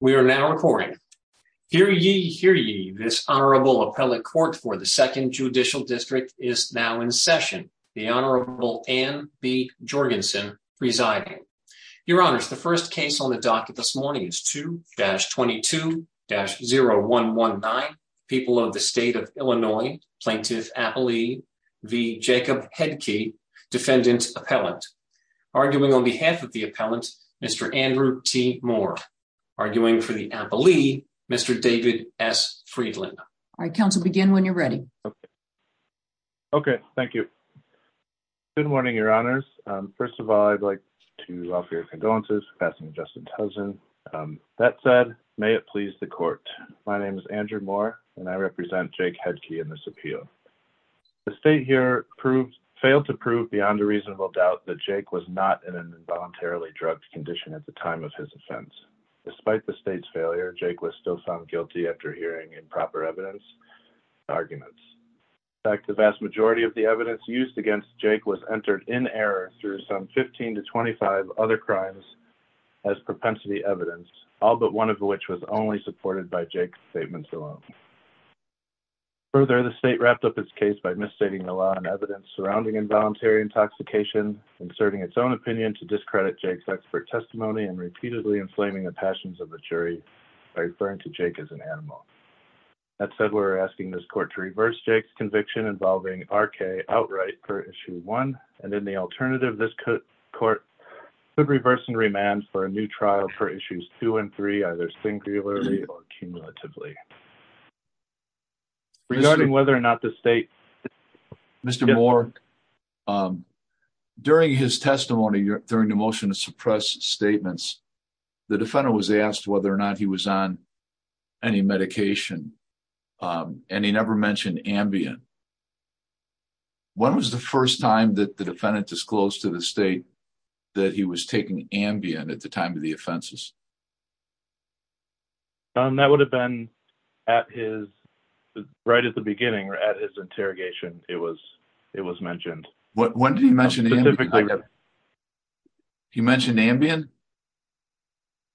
We are now recording. Hear ye, hear ye, this Honorable Appellate Court for the Second Judicial District is now in session. The Honorable Anne B. Jorgensen presiding. Your Honors, the first case on the docket this morning is 2-22-0119, People of the State of Illinois, Plaintiff Appellee v. Jacob Headtke, Defendant Appellant. Arguing on behalf of the Appellant, Mr. Andrew T. Moore. Arguing for the Appellee, Mr. David S. Friedlander. All right, counsel, begin when you're ready. Okay, thank you. Good morning, Your Honors. First of all, I'd like to offer your condolences for passing Justin Tuzin. That said, may it please the Court. My name is Andrew Moore, and I represent Jake Headtke in this appeal. The State here failed to prove beyond a reasonable doubt that Jake was not in an involuntarily drugged condition at the time of his offense. Despite the State's failure, Jake was still found guilty after hearing improper evidence and arguments. In fact, the vast majority of the evidence used against Jake was entered in error through some 15 to 25 other crimes as propensity evidence, all but one of which was only supported by Jake's statements alone. Further, the State wrapped up its case by misstating the law and evidence surrounding involuntary intoxication, inserting its own opinion to discredit Jake's expert testimony, and repeatedly inflaming the passions of the jury by referring to Jake as an animal. That said, we're asking this Court to reverse Jake's conviction involving R.K. outright per Issue 1, and in the alternative, this Court could reverse and remand for a new trial per Issues 2 and 3, either singularly or cumulatively. Regarding whether or not the State Mr. Moore, during his testimony during the motion to suppress statements, the Defendant was asked whether or not he was on any medication, and he never mentioned Ambien. When was the first time that the Defendant disclosed to the State that he was taking Ambien at the time of the offenses? That would have been at his, right at the beginning, at his interrogation, it was mentioned. When did he mention Ambien? He mentioned Ambien?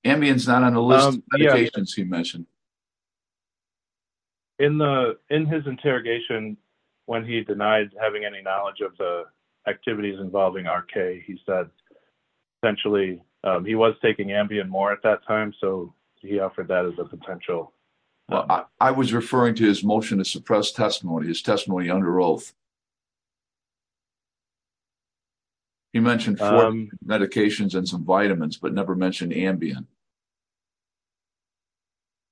Ambien's not on the list of medications he mentioned. In his interrogation, when he denied having any knowledge of the activities involving R.K., he essentially, he was taking Ambien more at that time, so he offered that as a potential. I was referring to his motion to suppress testimony, his testimony under oath. He mentioned four medications and some vitamins, but never mentioned Ambien.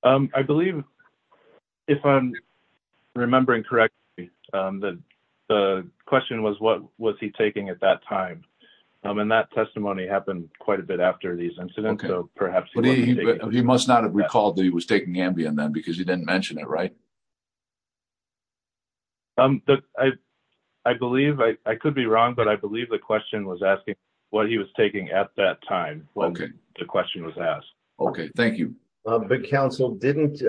I believe, if I'm remembering correctly, the question was, what was he taking at that time? And that testimony happened quite a bit after these incidents. He must not have recalled that he was taking Ambien then, because he didn't mention it, right? I believe, I could be wrong, but I believe the question was asking what he was taking at that time, when the question was asked. Okay, thank you. But Counsel, didn't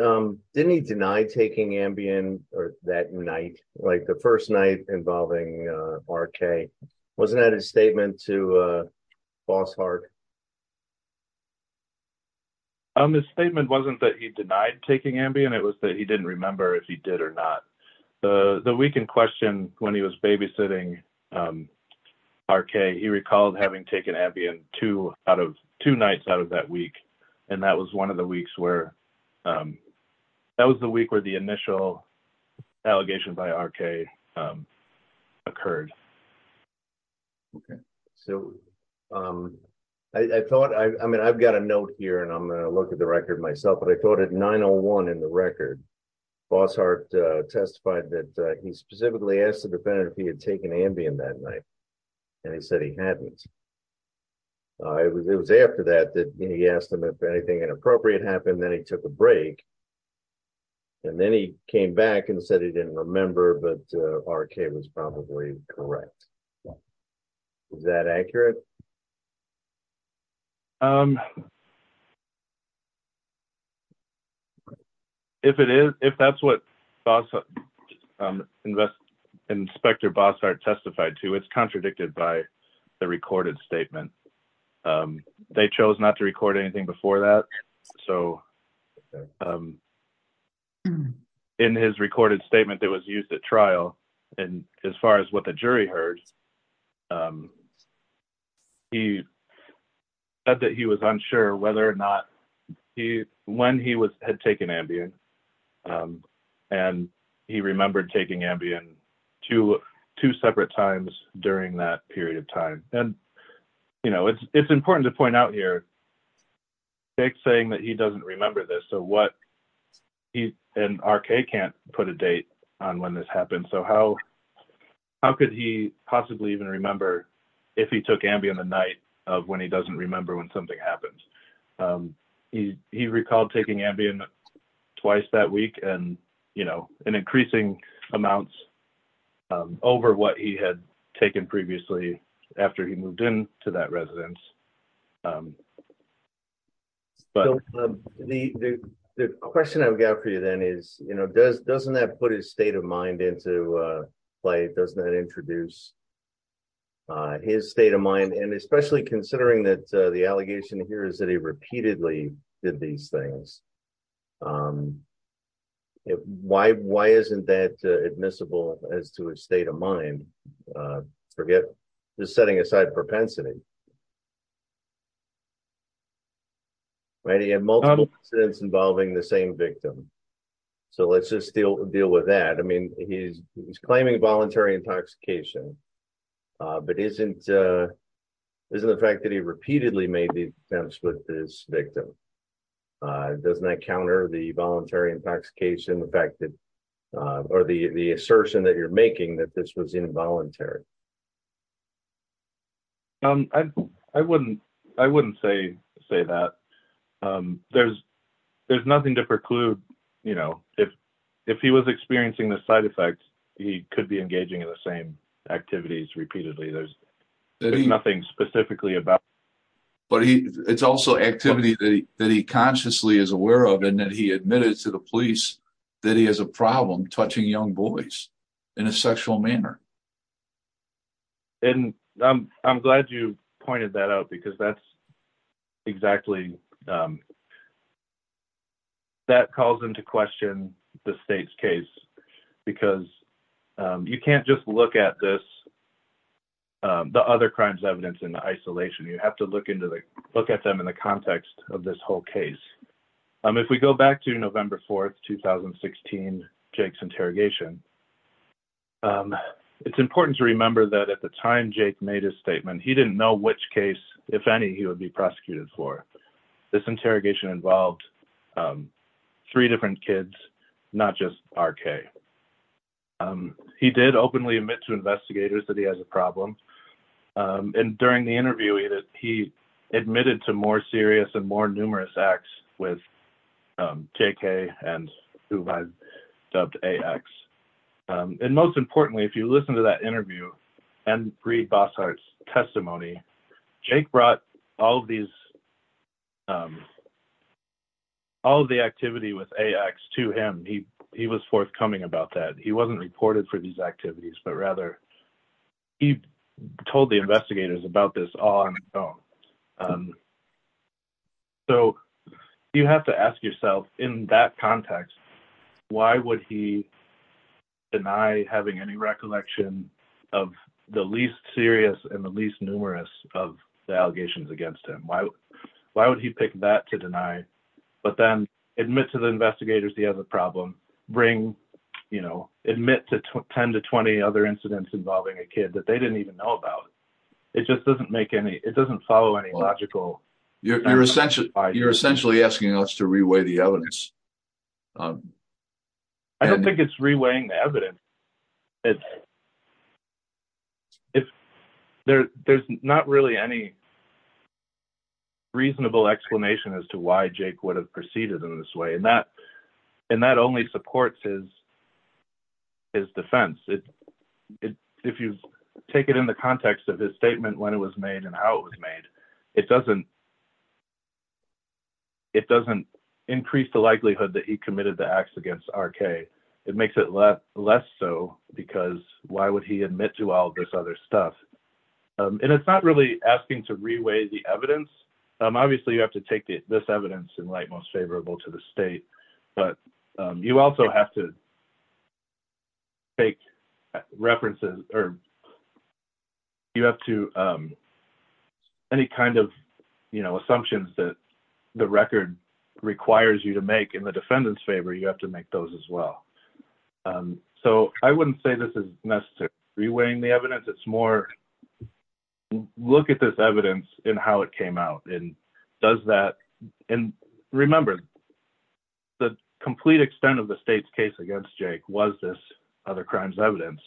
he deny taking Ambien that night, like the first night involving R.K.? Was that his statement to Fossard? His statement wasn't that he denied taking Ambien, it was that he didn't remember if he did or not. The week in question, when he was babysitting R.K., he recalled having taken Ambien two nights out of that week, and that was one of the weeks where, that was the week where the initial allegation by R.K. occurred. Okay, so I thought, I mean, I've got a note here, and I'm going to look at the record myself, but I thought at 9.01 in the record, Fossard testified that he specifically asked the defendant if he had taken Ambien that night, and he said he hadn't. It was after that that he asked him if anything inappropriate happened, then he took a break, and then he came back and said he didn't remember, but R.K. was probably correct. Is that accurate? If it is, if that's what Inspector Fossard testified to, it's contradicted by the recorded statement. They chose not to record anything before that, so okay. In his recorded statement that was used at trial, and as far as what the jury heard, he said that he was unsure whether or not he, when he had taken Ambien, and he remembered taking Ambien two separate times during that period of time, and, you know, it's important to point out here, Jake's saying that he doesn't remember this, so what, and R.K. can't put a date on when this happened, so how could he possibly even remember if he took Ambien the night of when he doesn't remember when something happens? He recalled taking Ambien twice that week, and, you know, in increasing amounts over what he had taken previously after he moved into that residence, but the question I've got for you then is, you know, doesn't that put his state of mind into play? Doesn't that introduce his state of mind, and especially considering that the allegation here is that he repeatedly did these things, why isn't that admissible as to his state of mind? Forget, just setting aside propensity, right? He had multiple incidents involving the same victim, so let's just deal with that. I mean, he's claiming voluntary intoxication, but isn't the fact that he repeatedly made the attempts with his victim, doesn't that counter the voluntary intoxication, the fact that, or the assertion that you're making that this was involuntary? I wouldn't say that. There's nothing to preclude, you know, if he was experiencing the side effects, he could be engaging in the same activities repeatedly. There's nothing specifically about. But it's also activity that he consciously is aware of, and that he admitted to the police that he has a problem touching young boys in a sexual manner. And I'm glad you pointed that out, because that's exactly, that calls into question the state's case, because you can't just look at this, the other crimes evidence in isolation. You have to look at them in the context of this whole case. If we go back to November 4th, 2016, Jake's interrogation, it's important to remember that at the time Jake made his statement, he didn't know which case, if any, he would be prosecuted for. This interrogation involved three different kids, not just R.K. He did openly admit to investigators that he has a problem. And during the interview, he admitted to more serious and more numerous acts with J.K. and A.X. And most importantly, if you listen to that interview and read Bossart's testimony, Jake brought all of these, all of the activity with A.X. to him. He was forthcoming about that. He wasn't reported for these activities, but rather he told the investigators about this all on his own. So you have to ask yourself, in that context, why would he deny having any recollection of the least serious and the least numerous of the allegations against him? Why would he pick that to deny? But then admit to the investigators he has a problem. Admit to 10 to 20 other incidents involving a kid that they didn't even know about. It just doesn't make any, it doesn't follow any logical... You're essentially asking us to reweigh the evidence. I don't think it's reweighing the evidence. There's not really any reasonable explanation as to why Jake would have proceeded in this way. And that only supports his defense. If you take it in the context of his statement, when it was made and how it was made, it doesn't increase the likelihood that he committed the acts against R.K. It makes it less so, because why would he admit to all this other stuff? And it's not really asking to reweigh the evidence. Obviously, you have to take this evidence in light most favorable to the state, but you also have to take references or you have to... Any kind of assumptions that the record requires you to make in the defendant's favor, you have to make those as well. So I wouldn't say this is necessary reweighing the evidence. It's more, look at this evidence and how it came out. And does that... And remember, the complete extent of the state's case against Jake was this other crimes evidence.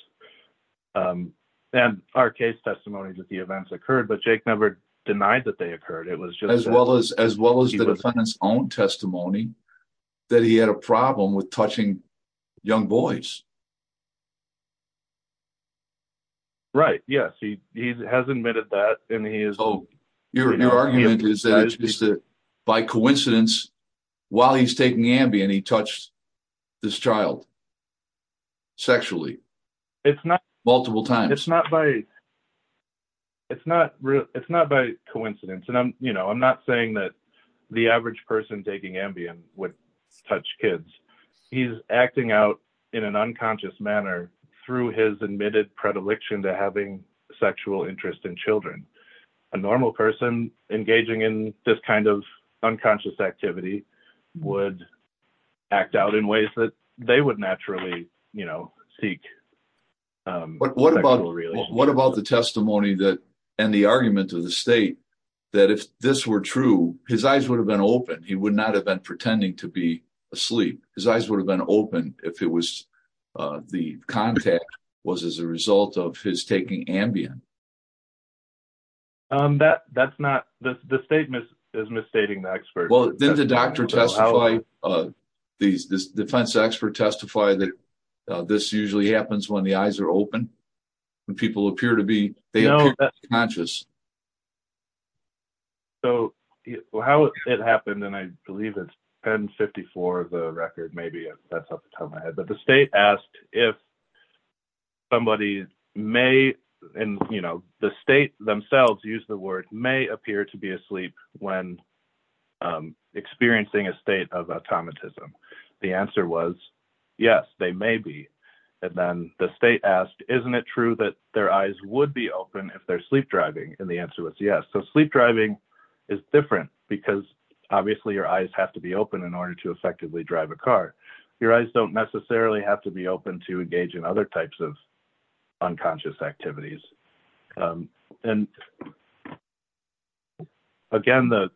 And R.K.'s testimony that the events occurred, but Jake never denied that they occurred. It was just... As well as the defendant's own testimony that he had a problem with touching young boys. Right. Yes. He has admitted that and he is... So your argument is that by coincidence, while he's taking Ambien, he touched this child sexually multiple times. It's not by coincidence. And I'm not saying that the average person taking Ambien would touch kids. He's acting out in an unconscious manner through his admitted predilection to having sexual interest in children. A normal person engaging in this kind of unconscious activity would act out in ways that they would naturally seek. What about the testimony that... And the argument of the state that if this were true, his eyes would have been open. He would not have been pretending to be asleep. His eyes would have been open if the contact was as a result of his taking Ambien. That's not... The statement is misstating the expert. Well, didn't the doctor testify, the defense expert testify that this usually happens when the eyes are open? When people appear to be... They appear to be conscious. So how it happened, and I believe it's 1054 of the record, maybe. That's off the top of my head. The state asked if somebody may... The state themselves use the word may appear to be asleep when experiencing a state of automatism. The answer was yes, they may be. And then the state asked, isn't it true that their eyes would be open if they're sleep driving? And the answer was yes. So sleep driving is different because obviously your eyes have to be open in order to effectively drive a car. Your eyes don't necessarily have to be open to engage in other types of unconscious activities. And again, the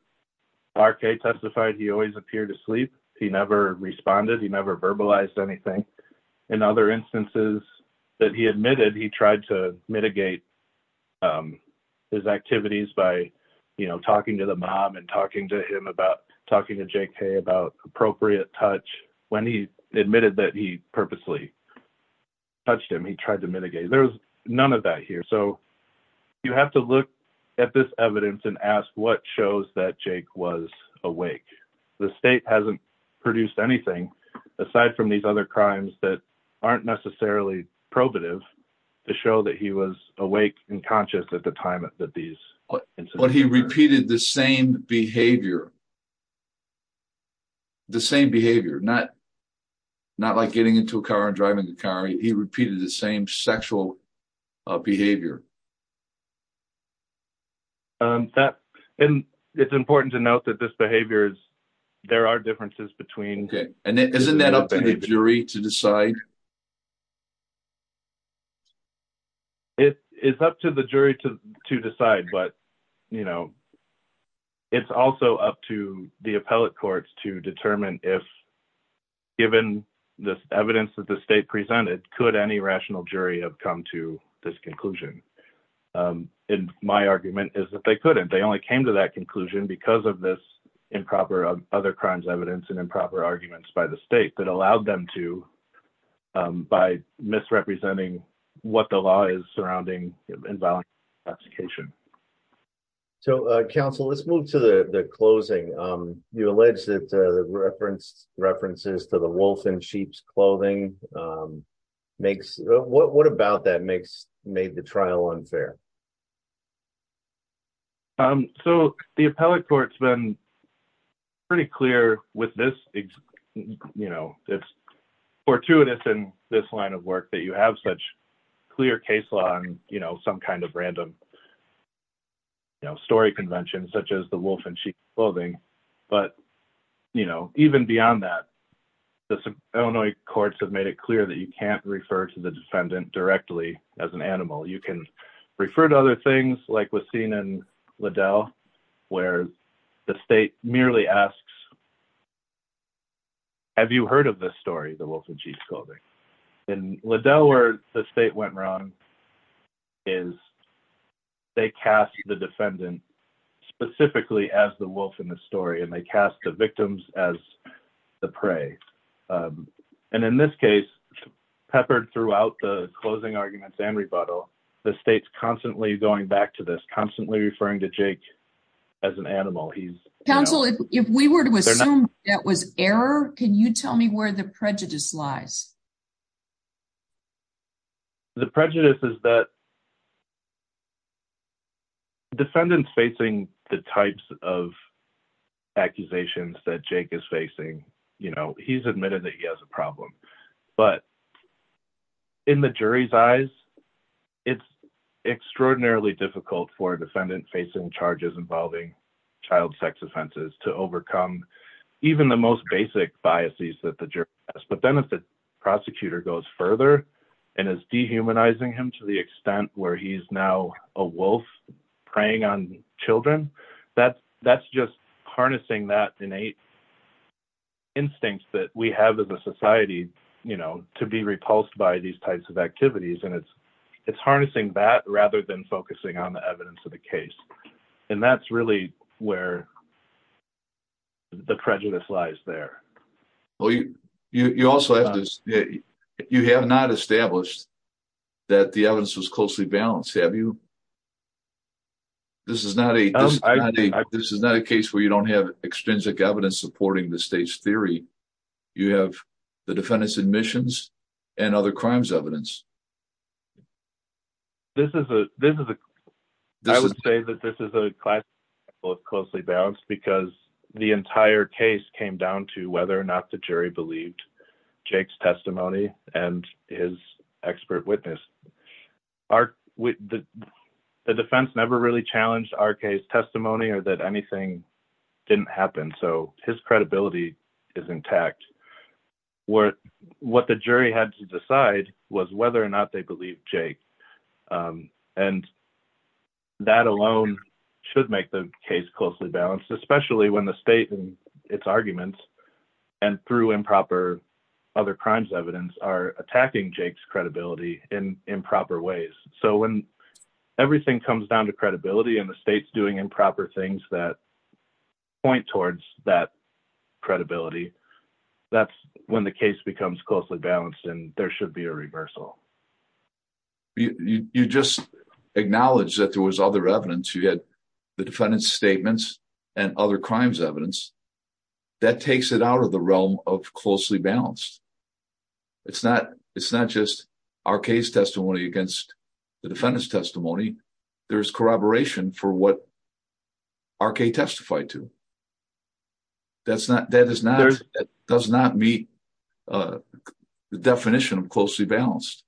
R.K. testified he always appeared to sleep. He never responded. He never verbalized anything. In other instances that he admitted, he tried to mitigate his activities by talking to the mom and talking to him about... Talking to J.K. about appropriate touch. When he admitted that he purposely touched him, he tried to mitigate. There was none of that here. So you have to look at this evidence and ask what shows that J.K. was awake. The state hasn't produced anything aside from these other crimes that aren't necessarily probative to show that he was awake and conscious at the time that these... But he repeated the same behavior. The same behavior. Not like getting into a car and driving the car. He repeated the same sexual behavior. And it's important to note that this behavior is... There are differences between... Okay. And isn't that up to the jury to decide? It's up to the jury to decide. But it's also up to the appellate courts to determine if, given this evidence that the state presented, could any rational jury have come to this conclusion. And my argument is that they couldn't. They only came to that conclusion because of this improper other crimes evidence and improper arguments by the state that allowed them to by misrepresenting what the law is surrounding inviolable intoxication. So, counsel, let's move to the closing. You alleged that the references to the wolf in sheep's clothing makes... What about that makes... Made the trial unfair? So, the appellate court's been pretty clear with this... It's fortuitous in this line of work that you have such clear case law and some kind of random story convention, such as the wolf in sheep's clothing. But even beyond that, the Illinois courts have made it clear that you can't refer to other things like was seen in Liddell, where the state merely asks, have you heard of this story, the wolf in sheep's clothing? In Liddell, where the state went wrong is they cast the defendant specifically as the wolf in the story and they cast the victims as the prey. And in this case, peppered throughout the closing arguments and rebuttal, the state's constantly going back to this, constantly referring to Jake as an animal. He's... Counsel, if we were to assume that was error, can you tell me where the prejudice lies? The prejudice is that defendants facing the types of accusations that Jake is facing, he's admitted that he has a but in the jury's eyes, it's extraordinarily difficult for a defendant facing charges involving child sex offenses to overcome even the most basic biases that the jury has. But then if the prosecutor goes further and is dehumanizing him to the extent where he's now a wolf preying on children, that's just harnessing that innate instinct that we have as a society to be repulsed by these types of activities. And it's harnessing that rather than focusing on the evidence of the case. And that's really where the prejudice lies there. Well, you also have this, you have not established that the evidence was closely balanced, have you? This is not a case where you don't have extrinsic evidence supporting the state's theory. You have the defendant's admissions and other crimes evidence. I would say that this is a class closely balanced because the entire case came down to whether or not the jury believed Jake's testimony and his expert witness. The defense never really challenged our case or that anything didn't happen. So his credibility is intact. What the jury had to decide was whether or not they believe Jake. And that alone should make the case closely balanced, especially when the state and its arguments and through improper other crimes evidence are attacking Jake's credibility in improper ways. So when everything comes down to credibility and the state's doing proper things that point towards that credibility, that's when the case becomes closely balanced and there should be a reversal. You just acknowledged that there was other evidence. You had the defendant's statements and other crimes evidence. That takes it out of the realm of closely balanced. It's not just our case testimony against the defendant's testimony. There's corroboration for what R.K. testified to. That does not meet the definition of closely balanced.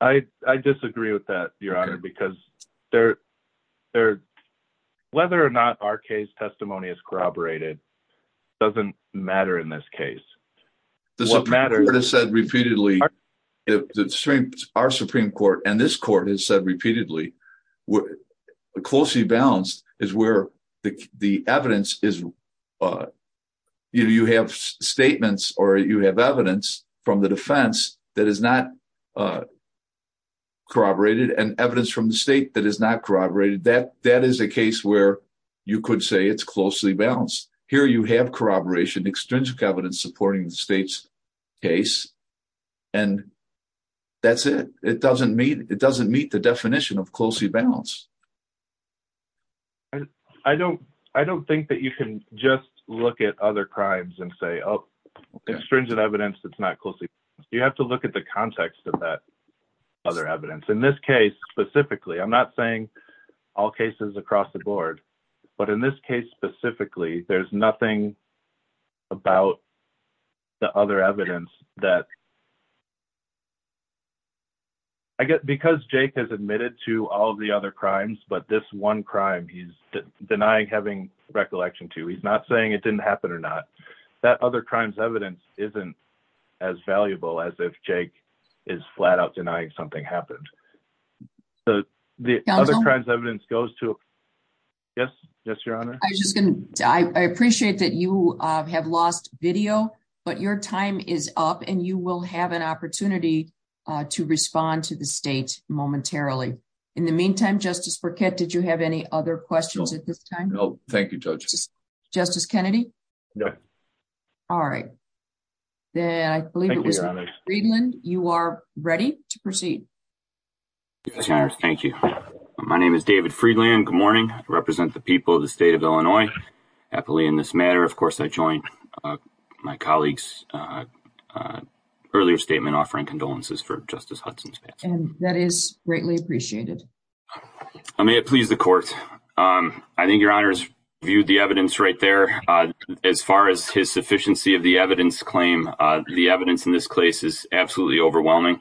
I disagree with that, your honor, because whether or not R.K.'s testimony is corroborated doesn't matter in this case. The Supreme Court has said repeatedly, the Supreme Court and this court has said repeatedly, closely balanced is where the evidence is. You have statements or you have evidence from the defense that is not corroborated and evidence from the state that is not corroborated. That is a case where you could say it's closely balanced. Here you have corroboration, extrinsic evidence supporting the case and that's it. It doesn't meet the definition of closely balanced. I don't think that you can just look at other crimes and say, oh, extrinsic evidence is not closely balanced. You have to look at the context of that other evidence. In this case specifically, I'm not saying all cases across the board, but in this case specifically, there's nothing about the other evidence that because Jake has admitted to all the other crimes, but this one crime he's denying having recollection to, he's not saying it didn't happen or not, that other crime's evidence isn't as valuable as if Jake is flat out denying something happened. The other crime's evidence goes to, yes, yes, your honor. I appreciate that you have lost video, but your time is up and you will have an opportunity to respond to the state momentarily. In the meantime, Justice Burkett, did you have any other questions at this time? No, thank you, Judge. Justice Kennedy? No. All right, then I believe it was- Thank you, your honor. Freedland, you are ready to proceed. Yes, your honor. Thank you. My name is David Freedland. Good morning. I represent the people of the state of Illinois. Happily, in this matter, of course, I join my colleagues' earlier statement offering condolences for Justice Hudson's past. That is greatly appreciated. May it please the court. I think your honor's viewed the evidence right there. As far as his sufficiency of the evidence claim, the evidence in this case is absolutely overwhelming.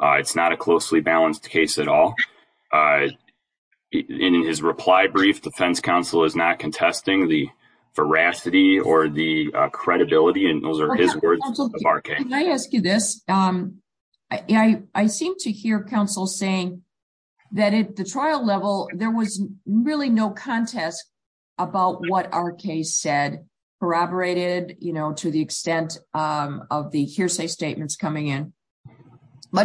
It's not a closely balanced case at all. In his reply brief, defense counsel is not contesting the veracity or the credibility, and those are his words of R.K. Can I ask you this? I seem to hear counsel saying that at the trial level, there was really no contest about what R.K. said, corroborated to the extent of the hearsay statements coming in.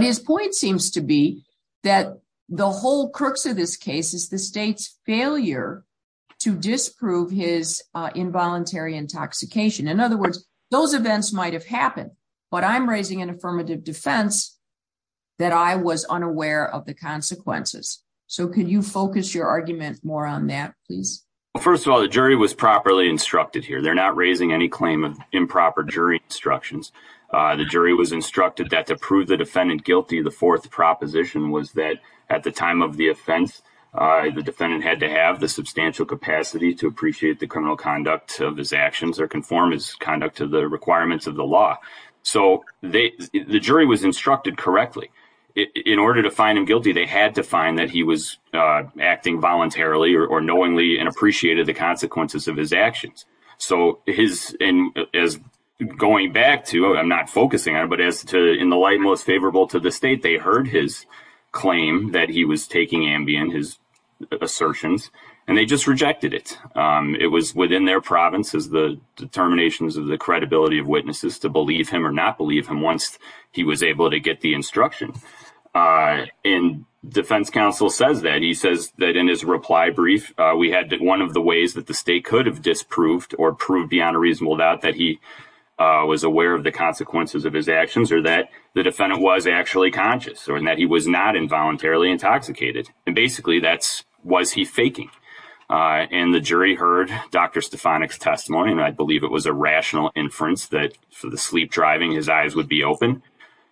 His point seems to be that the whole crux of this case is the state's failure to disprove his involuntary intoxication. In other words, those events might have happened, but I'm raising an affirmative defense that I was unaware of the consequences. Could you focus your argument more on that, please? First of all, the jury was properly instructed here. They're not raising any claim of improper jury instructions. The jury was instructed that to prove the defendant guilty, the fourth proposition was that at the time of the offense, the defendant had to have the substantial capacity to appreciate the criminal conduct of his actions or conform his conduct to the requirements of the law. The jury was instructed correctly. In order to find him guilty, they had to find that he was acting voluntarily or knowingly and appreciated the consequences of his actions. Going back to, I'm not focusing on it, but as to in the light most favorable to the state, they heard his claim that he was taking Ambien, his assertions, and they just rejected it. It was within their province as the determinations of the credibility of witnesses to believe him or was able to get the instruction. Defense counsel says that. He says that in his reply brief, we had one of the ways that the state could have disproved or proved beyond a reasonable doubt that he was aware of the consequences of his actions or that the defendant was actually conscious or that he was not involuntarily intoxicated. Basically, that's, was he faking? The jury heard Dr. Stefanik's testimony, and I believe it was a rational inference that for the sleep his eyes would be open.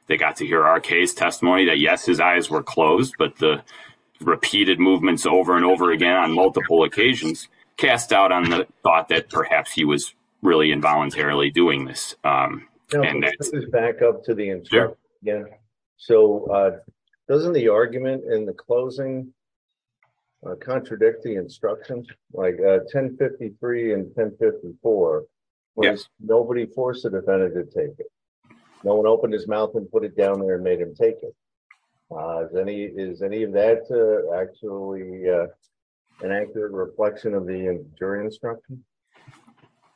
They got to hear R.K.'s testimony that yes, his eyes were closed, but the repeated movements over and over again on multiple occasions cast doubt on the thought that perhaps he was really involuntarily doing this. And that's back up to the insurer. Yeah. So, doesn't the argument in the closing contradict the instructions like 1053 and 1054? Yes. Nobody forced the defendant to take it. No one opened his mouth and put it down there and made him take it. Is any of that actually an accurate reflection of the jury instruction?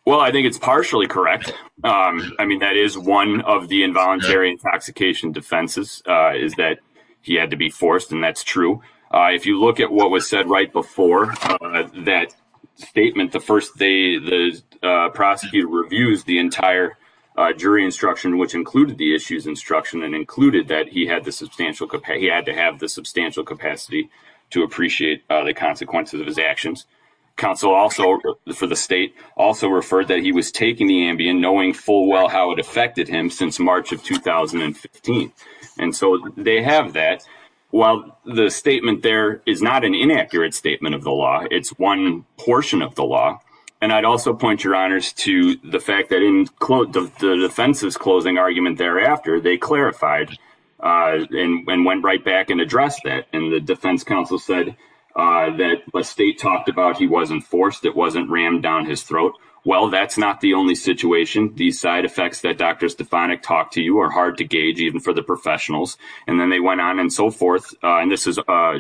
Well, I think it's partially correct. I mean, that is one of the involuntary intoxication defenses is that he had to be forced, and that's true. If you look at what was said right before that statement, the first day the prosecutor reviews the entire jury instruction, which included the issues instruction and included that he had the substantial capacity, he had to have the substantial capacity to appreciate the consequences of his actions. Counsel also, for the state, also referred that he was taking the Ambien knowing full well how it affected him since March of 2015. And so they have that. While the statement there is not an inaccurate statement of the law, it's one portion of the law. And I'd also point your honors to the fact that in the defense's closing argument thereafter, they clarified and went right back and addressed that. And the defense counsel said that what state talked about, he wasn't forced, it wasn't rammed down his throat. Well, that's not the only situation. These side effects that Dr. Stefanik talked to you are hard to gauge even for the professionals. And then they went on and so forth. And this is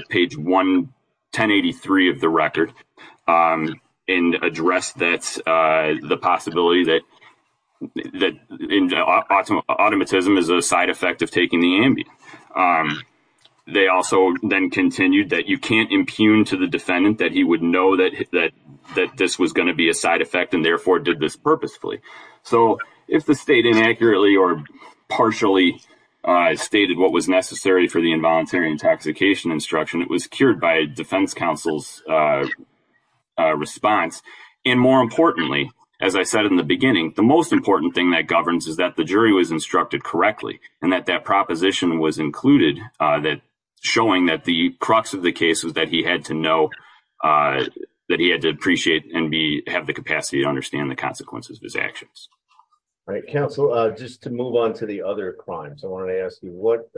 page 1, 1083 of the record and addressed that the possibility that automatism is a side effect of taking the Ambien. They also then continued that you can't impugn to the defendant that he would know that this was going to be a side effect and therefore did this purposefully. So if the state inaccurately or partially stated what was necessary for the involuntary intoxication instruction, it was cured by defense counsel's response. And more importantly, as I said in the beginning, the most important thing that governs is that the jury was instructed correctly. And that that proposition was included that showing that the crux of the case was that he had to know that he had to appreciate and have the capacity to understand the consequences of his actions. All right, counsel, just to move on to the other crimes, I want to ask you what,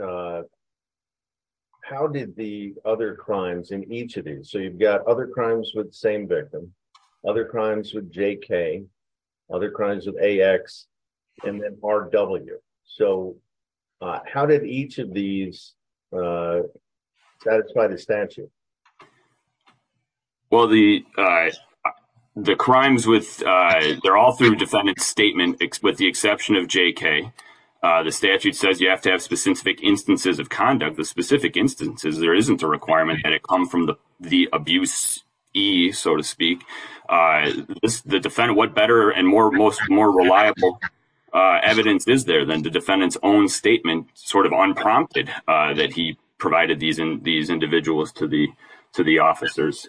how did the other crimes in each of these, so you've got other crimes with the same victim, other crimes with JK, other crimes with AX, and then RW. So how did each of these satisfy the statute? Well, the crimes with, they're all through defendant's statement with the exception of JK. The statute says you have to have specific instances of conduct. The specific instances, there isn't a requirement that it come from the abuse E, so to speak. The defendant, what better and more reliable evidence is there than the defendant's own statement sort of unprompted that he provided these individuals to the officers.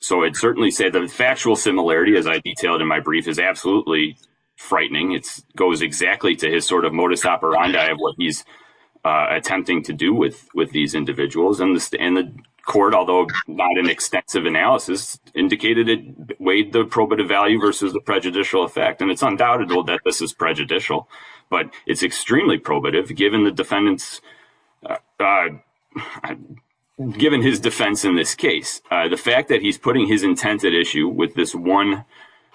So I'd certainly say the factual similarity, as I detailed in my brief, is absolutely frightening. It goes exactly to his sort of modus operandi of what he's attempting to do with these individuals. And the court, although not an extensive analysis, indicated it weighed the probative value versus the prejudicial effect. And it's undoubted that this is prejudicial, but it's extremely probative given the defendant's, given his defense in this case. The fact that he's putting his intent at issue with this one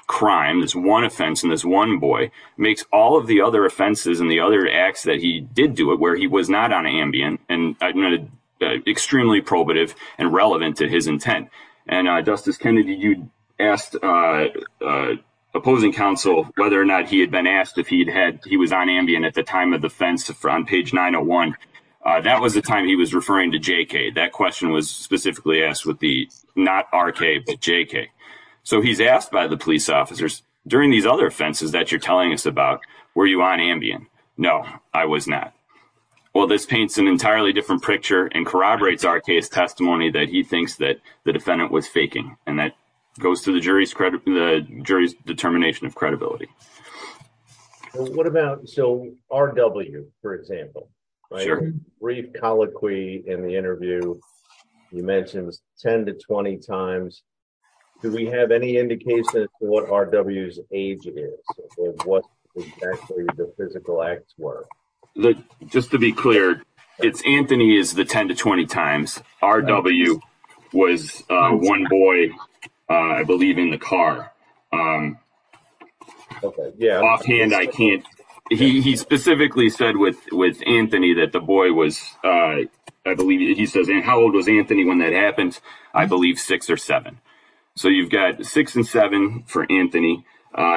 crime, this one offense, and this one boy, makes all of the other offenses and the other acts that he did do it where he was not on Ambien and extremely probative and relevant to his intent. And Justice Kennedy, you asked opposing counsel whether or not he had been asked if he was on Ambien at the time of the offense on page 901. That was the time he was referring to JK. That question was specifically asked with the not RK, but JK. So he's asked by the police officers, during these other offenses that you're telling us about, were you on Ambien? No, I was not. Well, this paints an entirely different picture and corroborates RK's testimony that he thinks that the defendant was faking, and that goes to the jury's determination of credibility. Well, what about, so R.W., for example? Sure. Brief colloquy in the interview, you mentioned 10 to 20 times. Do we have any indication of what R.W.'s age is? What exactly the physical acts were? Just to be clear, it's Anthony is the 10 to 20 times. R.W. was one boy, I believe, in the car. Offhand, I can't. He specifically said with Anthony that the boy was, I believe, he says, how old was Anthony when that happened? I believe six or seven. So you've got six and seven for Anthony.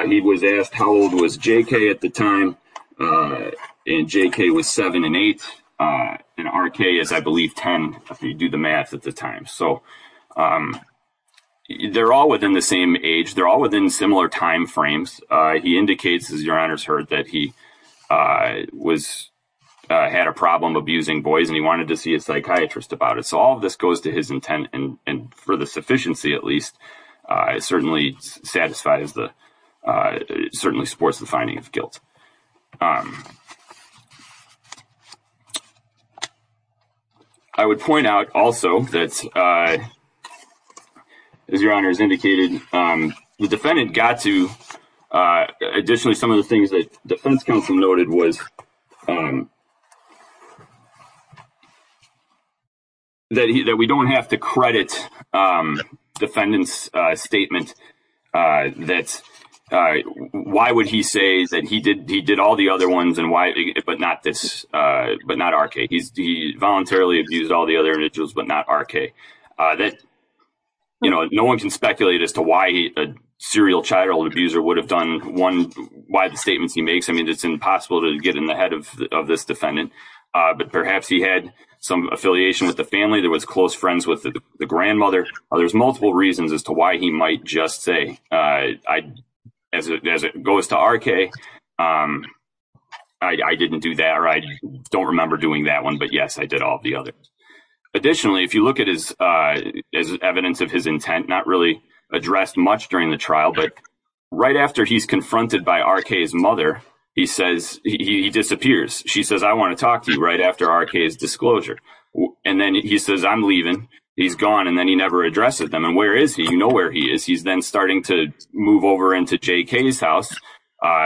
He was asked how old was JK at the time, and JK was seven and eight, and RK is, I believe, 10 if you do the math at the time. So they're all within the same age. They're all within similar time frames. He indicates, as your honors heard, that he had a problem abusing boys, and he wanted to see a psychiatrist about it. So all of this goes to his intent, and for the sufficiency, at least, it certainly satisfies, certainly supports the finding of guilt. I would point out also that, as your honors indicated, the defendant got to, additionally, some of the things that defense counsel noted was that we don't have to credit defendant's statement that why would he say that he did all the other ones, but not RK. He voluntarily abused all the other individuals, but not RK. No one can speculate as to why a serial child abuser would have done one, why the statements he makes. I mean, it's impossible to get in the head of this defendant, but perhaps he had some affiliation with the family. There was close friends with the grandmother. There's multiple reasons as to why he might just say, as it goes to RK, I didn't do that, or I don't remember doing that one, but yes, I did all the other. Additionally, if you look at his evidence of his intent, not really addressed much during the trial, but right after he's confronted by RK's mother, he says he disappears. She says, I want to talk to you right after RK's disclosure, and then he says, I'm leaving. He's gone, and then he never addresses them, and where is he? You know where he is. He's then starting to move over into JK's house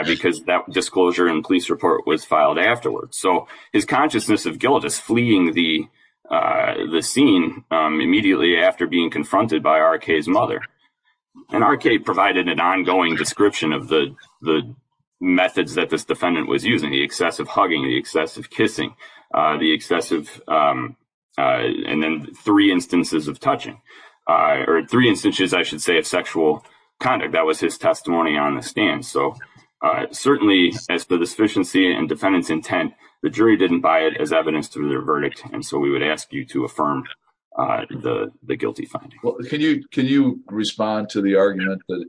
because that disclosure and police report was filed afterwards, so his consciousness of guilt is fleeing the scene immediately after being confronted by RK's mother, and RK provided an ongoing description of the methods that this defendant was using, the excessive hugging, the excessive kissing, the excessive, and then three instances of touching, or three instances, I should say, of sexual conduct. That was his testimony on the stand, so certainly as to the sufficiency and defendant's intent, the jury didn't buy it as evidence to their verdict, and so we would ask you to affirm the guilty finding. Well, can you respond to the argument that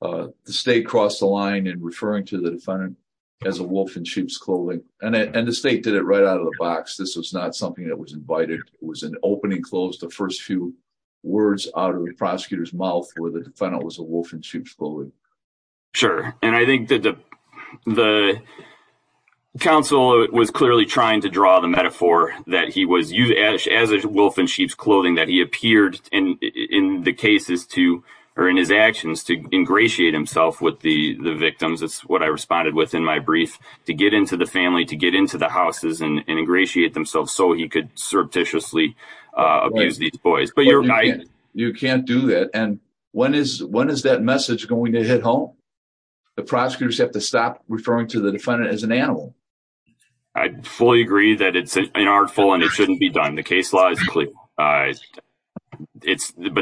the state crossed the line in referring to the defendant as a wolf in sheep's clothing, and the state did it right out of the box. This was not something that was invited. It was an opening close, the first few words out of the prosecutor's mouth where the defendant was a wolf in sheep's clothing. Sure, and I think that the counsel was clearly trying to draw the metaphor that he was as a wolf in sheep's clothing, that he appeared in the cases to, or in his actions, to ingratiate himself with the the victims. That's what I responded with in my brief, to get into the family, to get into the houses, and ingratiate themselves so he could surreptitiously abuse these boys, but you're right. You can't do that, and when is that message going to hit home? The prosecutors have to stop referring to the defendant as an animal. I fully agree that it's an artful, and it shouldn't be done. The case law is clear, but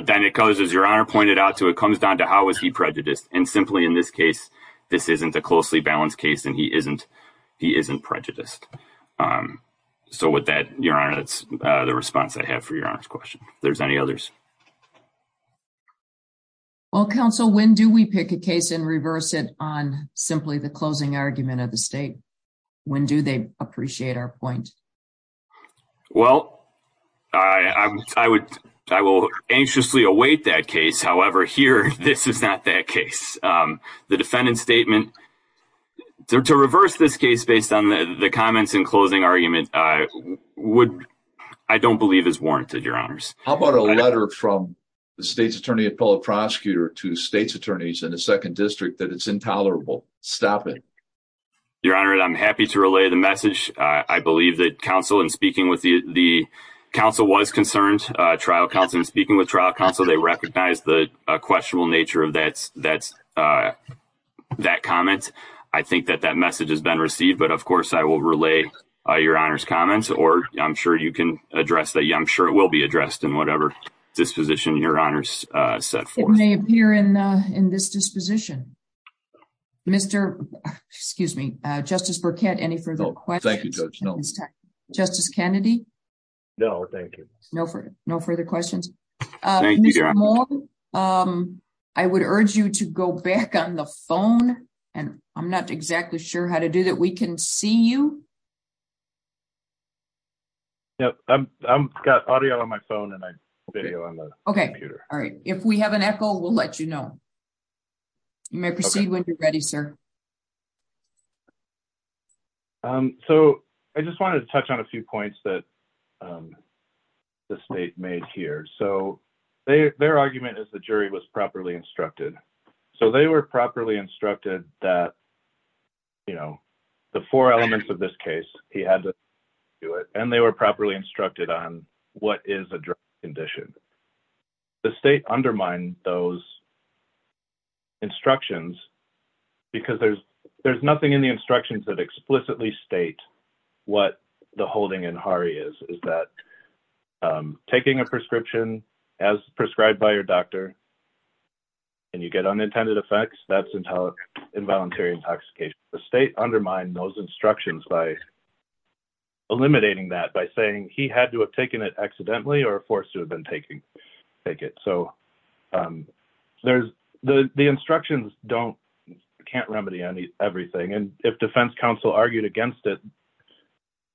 then it goes, as your honor pointed out, to it comes down to how was he prejudiced, and simply in this case, this isn't a closely balanced case, and he isn't prejudiced. So with that, your honor, that's the response I have for your honor's question. If there's any others? Well, counsel, when do we pick a case and reverse it on simply the closing argument of the state? When do they appreciate our point? Well, I will anxiously await that case. However, here, this is not that case. The defendant's statement, to reverse this case based on the comments and closing argument, I don't believe is warranted, your honors. How about a letter from the state's attorney appellate prosecutor to the state's attorneys in the Your honor, I'm happy to relay the message. I believe that counsel, in speaking with the counsel, was concerned. Trial counsel, in speaking with trial counsel, they recognized the questionable nature of that comment. I think that that message has been received, but of course, I will relay your honor's comments, or I'm sure you can address that. I'm sure it will be addressed in whatever disposition your honors set forth. It may appear in this disposition. Mr. Excuse me, Justice Burkett, any further questions? Thank you, Judge. Justice Kennedy? No, thank you. No further questions. I would urge you to go back on the phone, and I'm not exactly sure how to do that. We can see you. Yeah, I've got audio on my phone and video on the computer. All right. If we have an echo, we'll let you know. You may proceed when you're ready, sir. So, I just wanted to touch on a few points that the state made here. So, their argument is the jury was properly instructed. So, they were properly instructed that, you know, the four elements of this case, he had to do it, and they were properly instructed on what is a drug condition. The state undermined those instructions because there's nothing in the instructions that explicitly state what the holding in Hari is, is that taking a prescription as prescribed by your doctor, and you get unintended effects, that's involuntary intoxication. The state undermined those instructions by eliminating that by saying he had to have taken it accidentally or forced to have been taking it. So, the instructions can't remedy everything, and if defense counsel argued against it,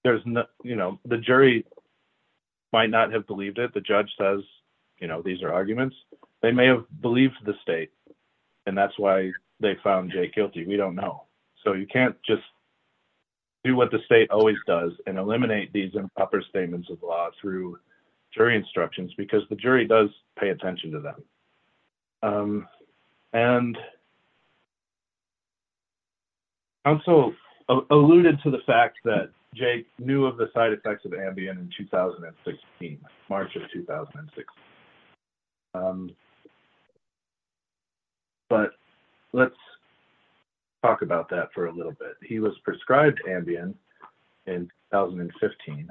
the jury might not have believed it. The judge says, you know, these are arguments. They may have believed the state, and that's why they found Jay guilty. We don't know. So, you can't just do what the state always does and eliminate these improper statements of law through jury instructions because the jury does pay attention to them. And counsel alluded to the fact that Jay knew of the side effects of Ambien in 2016, March of 2016. But let's talk about that for a little bit. He was prescribed Ambien in 2015.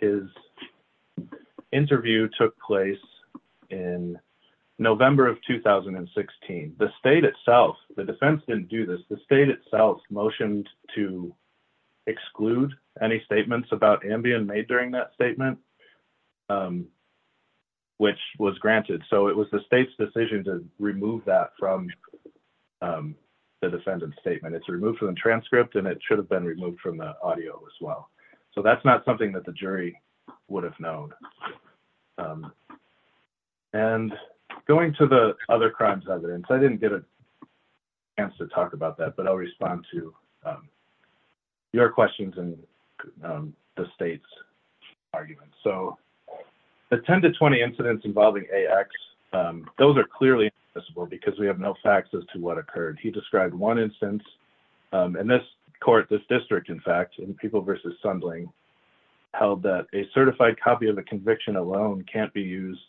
His interview took place in November of 2016. The state itself, the defense didn't do this, the state itself motioned to exclude any statements about Ambien made during that statement. Which was granted. So, it was the state's decision to remove that from the defendant's statement. It's removed from the transcript, and it should have been removed from the audio as well. So, that's not something that the jury would have known. And going to the other crimes evidence, I didn't get a chance to talk about that, but I'll respond to your questions and the state's arguments. So, the 10 to 20 incidents involving AX, those are clearly invisible because we have no facts as to what occurred. He described one instance in this court, this district, in fact, in People v. Sundling, held that a certified copy of a conviction alone can't be used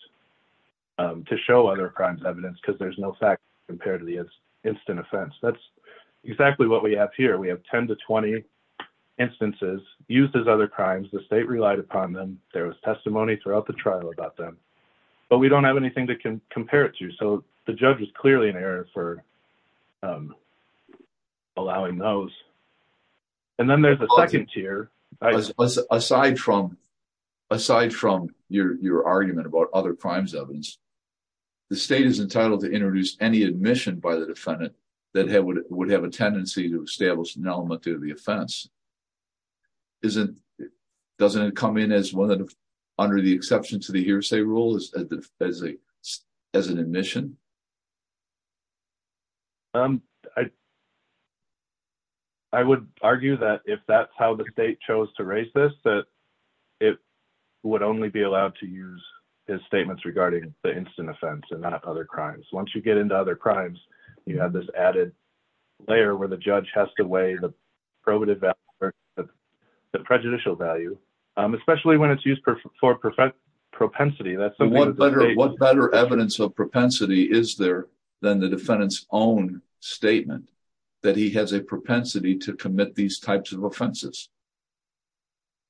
to show other crimes evidence because there's no facts compared to the instant offense. That's exactly what we have here. We have 10 to 20 instances used as other crimes. The state relied upon them. There was testimony throughout the trial about them. But we don't have anything to compare it to. So, the judge was clearly in error for allowing those. And then there's a second tier. Aside from your argument about other crimes evidence, the state is entitled to introduce any admission by the defendant that would have a tendency to establish an element of the offense. Doesn't it come in under the exception to the hearsay rule as an admission? I would argue that if that's how the state chose to raise this, that it would only be allowed to use his statements regarding the instant offense and not other crimes. Once you get into other crimes, you have this added layer where the judge has to weigh the probative value or the prejudicial value, especially when it's used for propensity. What better evidence of propensity is there than the defendant's own statement that he has a propensity to commit these types of offenses?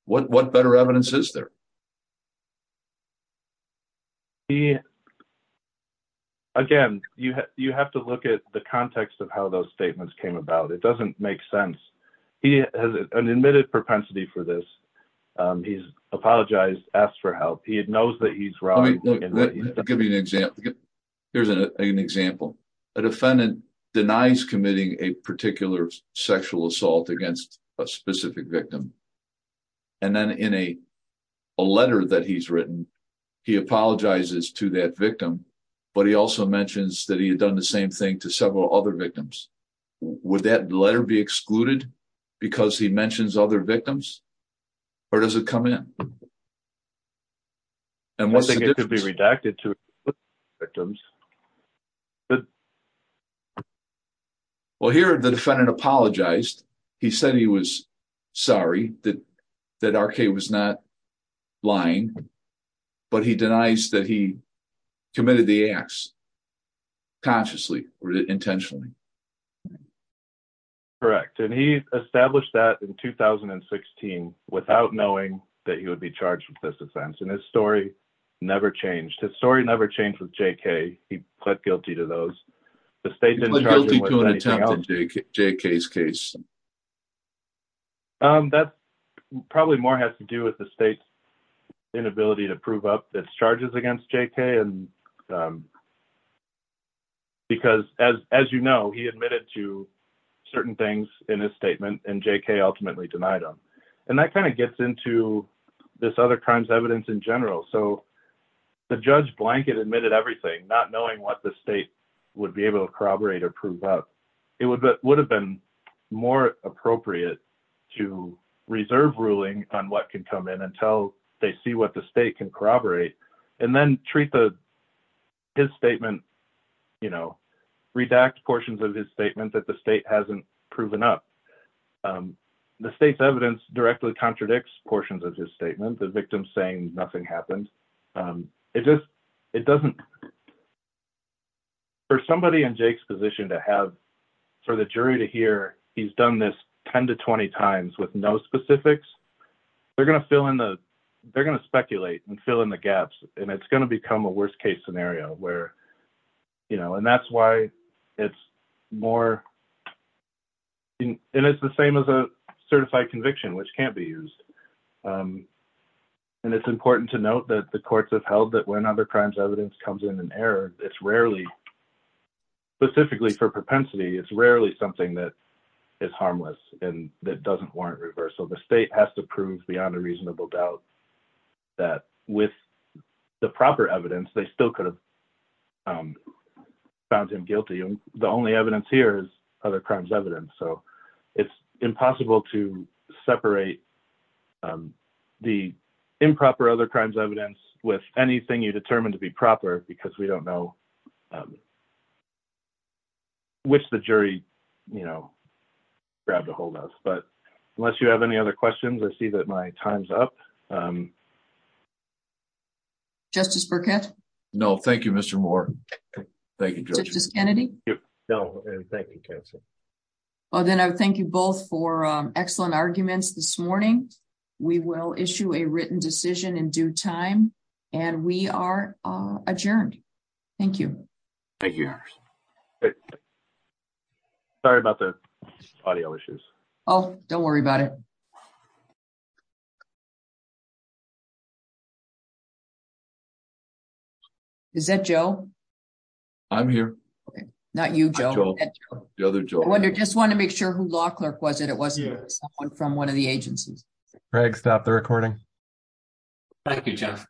What better evidence is there? Again, you have to look at the context of how those statements came about. It doesn't make sense. He has an admitted propensity for this. He's apologized, asked for help. He knows that he's wrong. Here's an example. A defendant denies committing a particular sexual assault against a specific victim. Then, in a letter that he's written, he apologizes to that victim, but he also mentions that he had done the same thing to several other victims. Would that letter be excluded because he mentions other victims, or does it come in? I don't think it could be redacted to include other victims. Well, here the defendant apologized. He said he was sorry that R.K. was not lying, but he denies that he committed the acts consciously or intentionally. Correct. He established that in 2016 without knowing that he would be charged with this offense. His story never changed. His story never changed with J.K. He pled guilty to those. The state didn't charge him with anything else. He pled guilty to an attempted J.K.'s case. That probably more has to do with the state's inability to prove up its charges against J.K. because, as you know, he admitted to certain things in his statement, and J.K. ultimately denied them. That gets into this other crimes evidence in general. The judge blanket admitted everything, not knowing what the state would be able to corroborate or prove up. It would have been more appropriate to reserve ruling on what can come in until they see what the state can corroborate, and then treat his statement, redact portions of his statement that the state hasn't proven up. The state's evidence directly contradicts portions of his statement, the victim saying nothing happened. For somebody in J.K.'s position to have, for the jury to hear he's done this 10 to 20 times with no specifics, they're going to speculate and fill in the gaps. It's going to become a worst-case scenario. It's the same as a certified conviction, which can't be used. It's important to note that the courts have held that when other crimes evidence comes in error, it's rarely, specifically for reasonable doubt, that with the proper evidence, they still could have found him guilty. The only evidence here is other crimes evidence. It's impossible to separate the improper other crimes evidence with anything you determine to be proper because we don't know which the jury you know, grabbed a hold of. Unless you have any other questions, I see that my time's up. Justice Burkett? No, thank you, Mr. Moore. Thank you, Judge. Justice Kennedy? No, thank you, counsel. Well, then I thank you both for excellent arguments this morning. We will issue a written decision in due time, and we are adjourned. Thank you. Thank you. Sorry about the audio issues. Oh, don't worry about it. Is that Joe? I'm here. Okay, not you, Joe. I wonder, just wanted to make sure who law clerk was it. It wasn't someone from one of the agencies. Greg, stop the recording. Thank you, judge.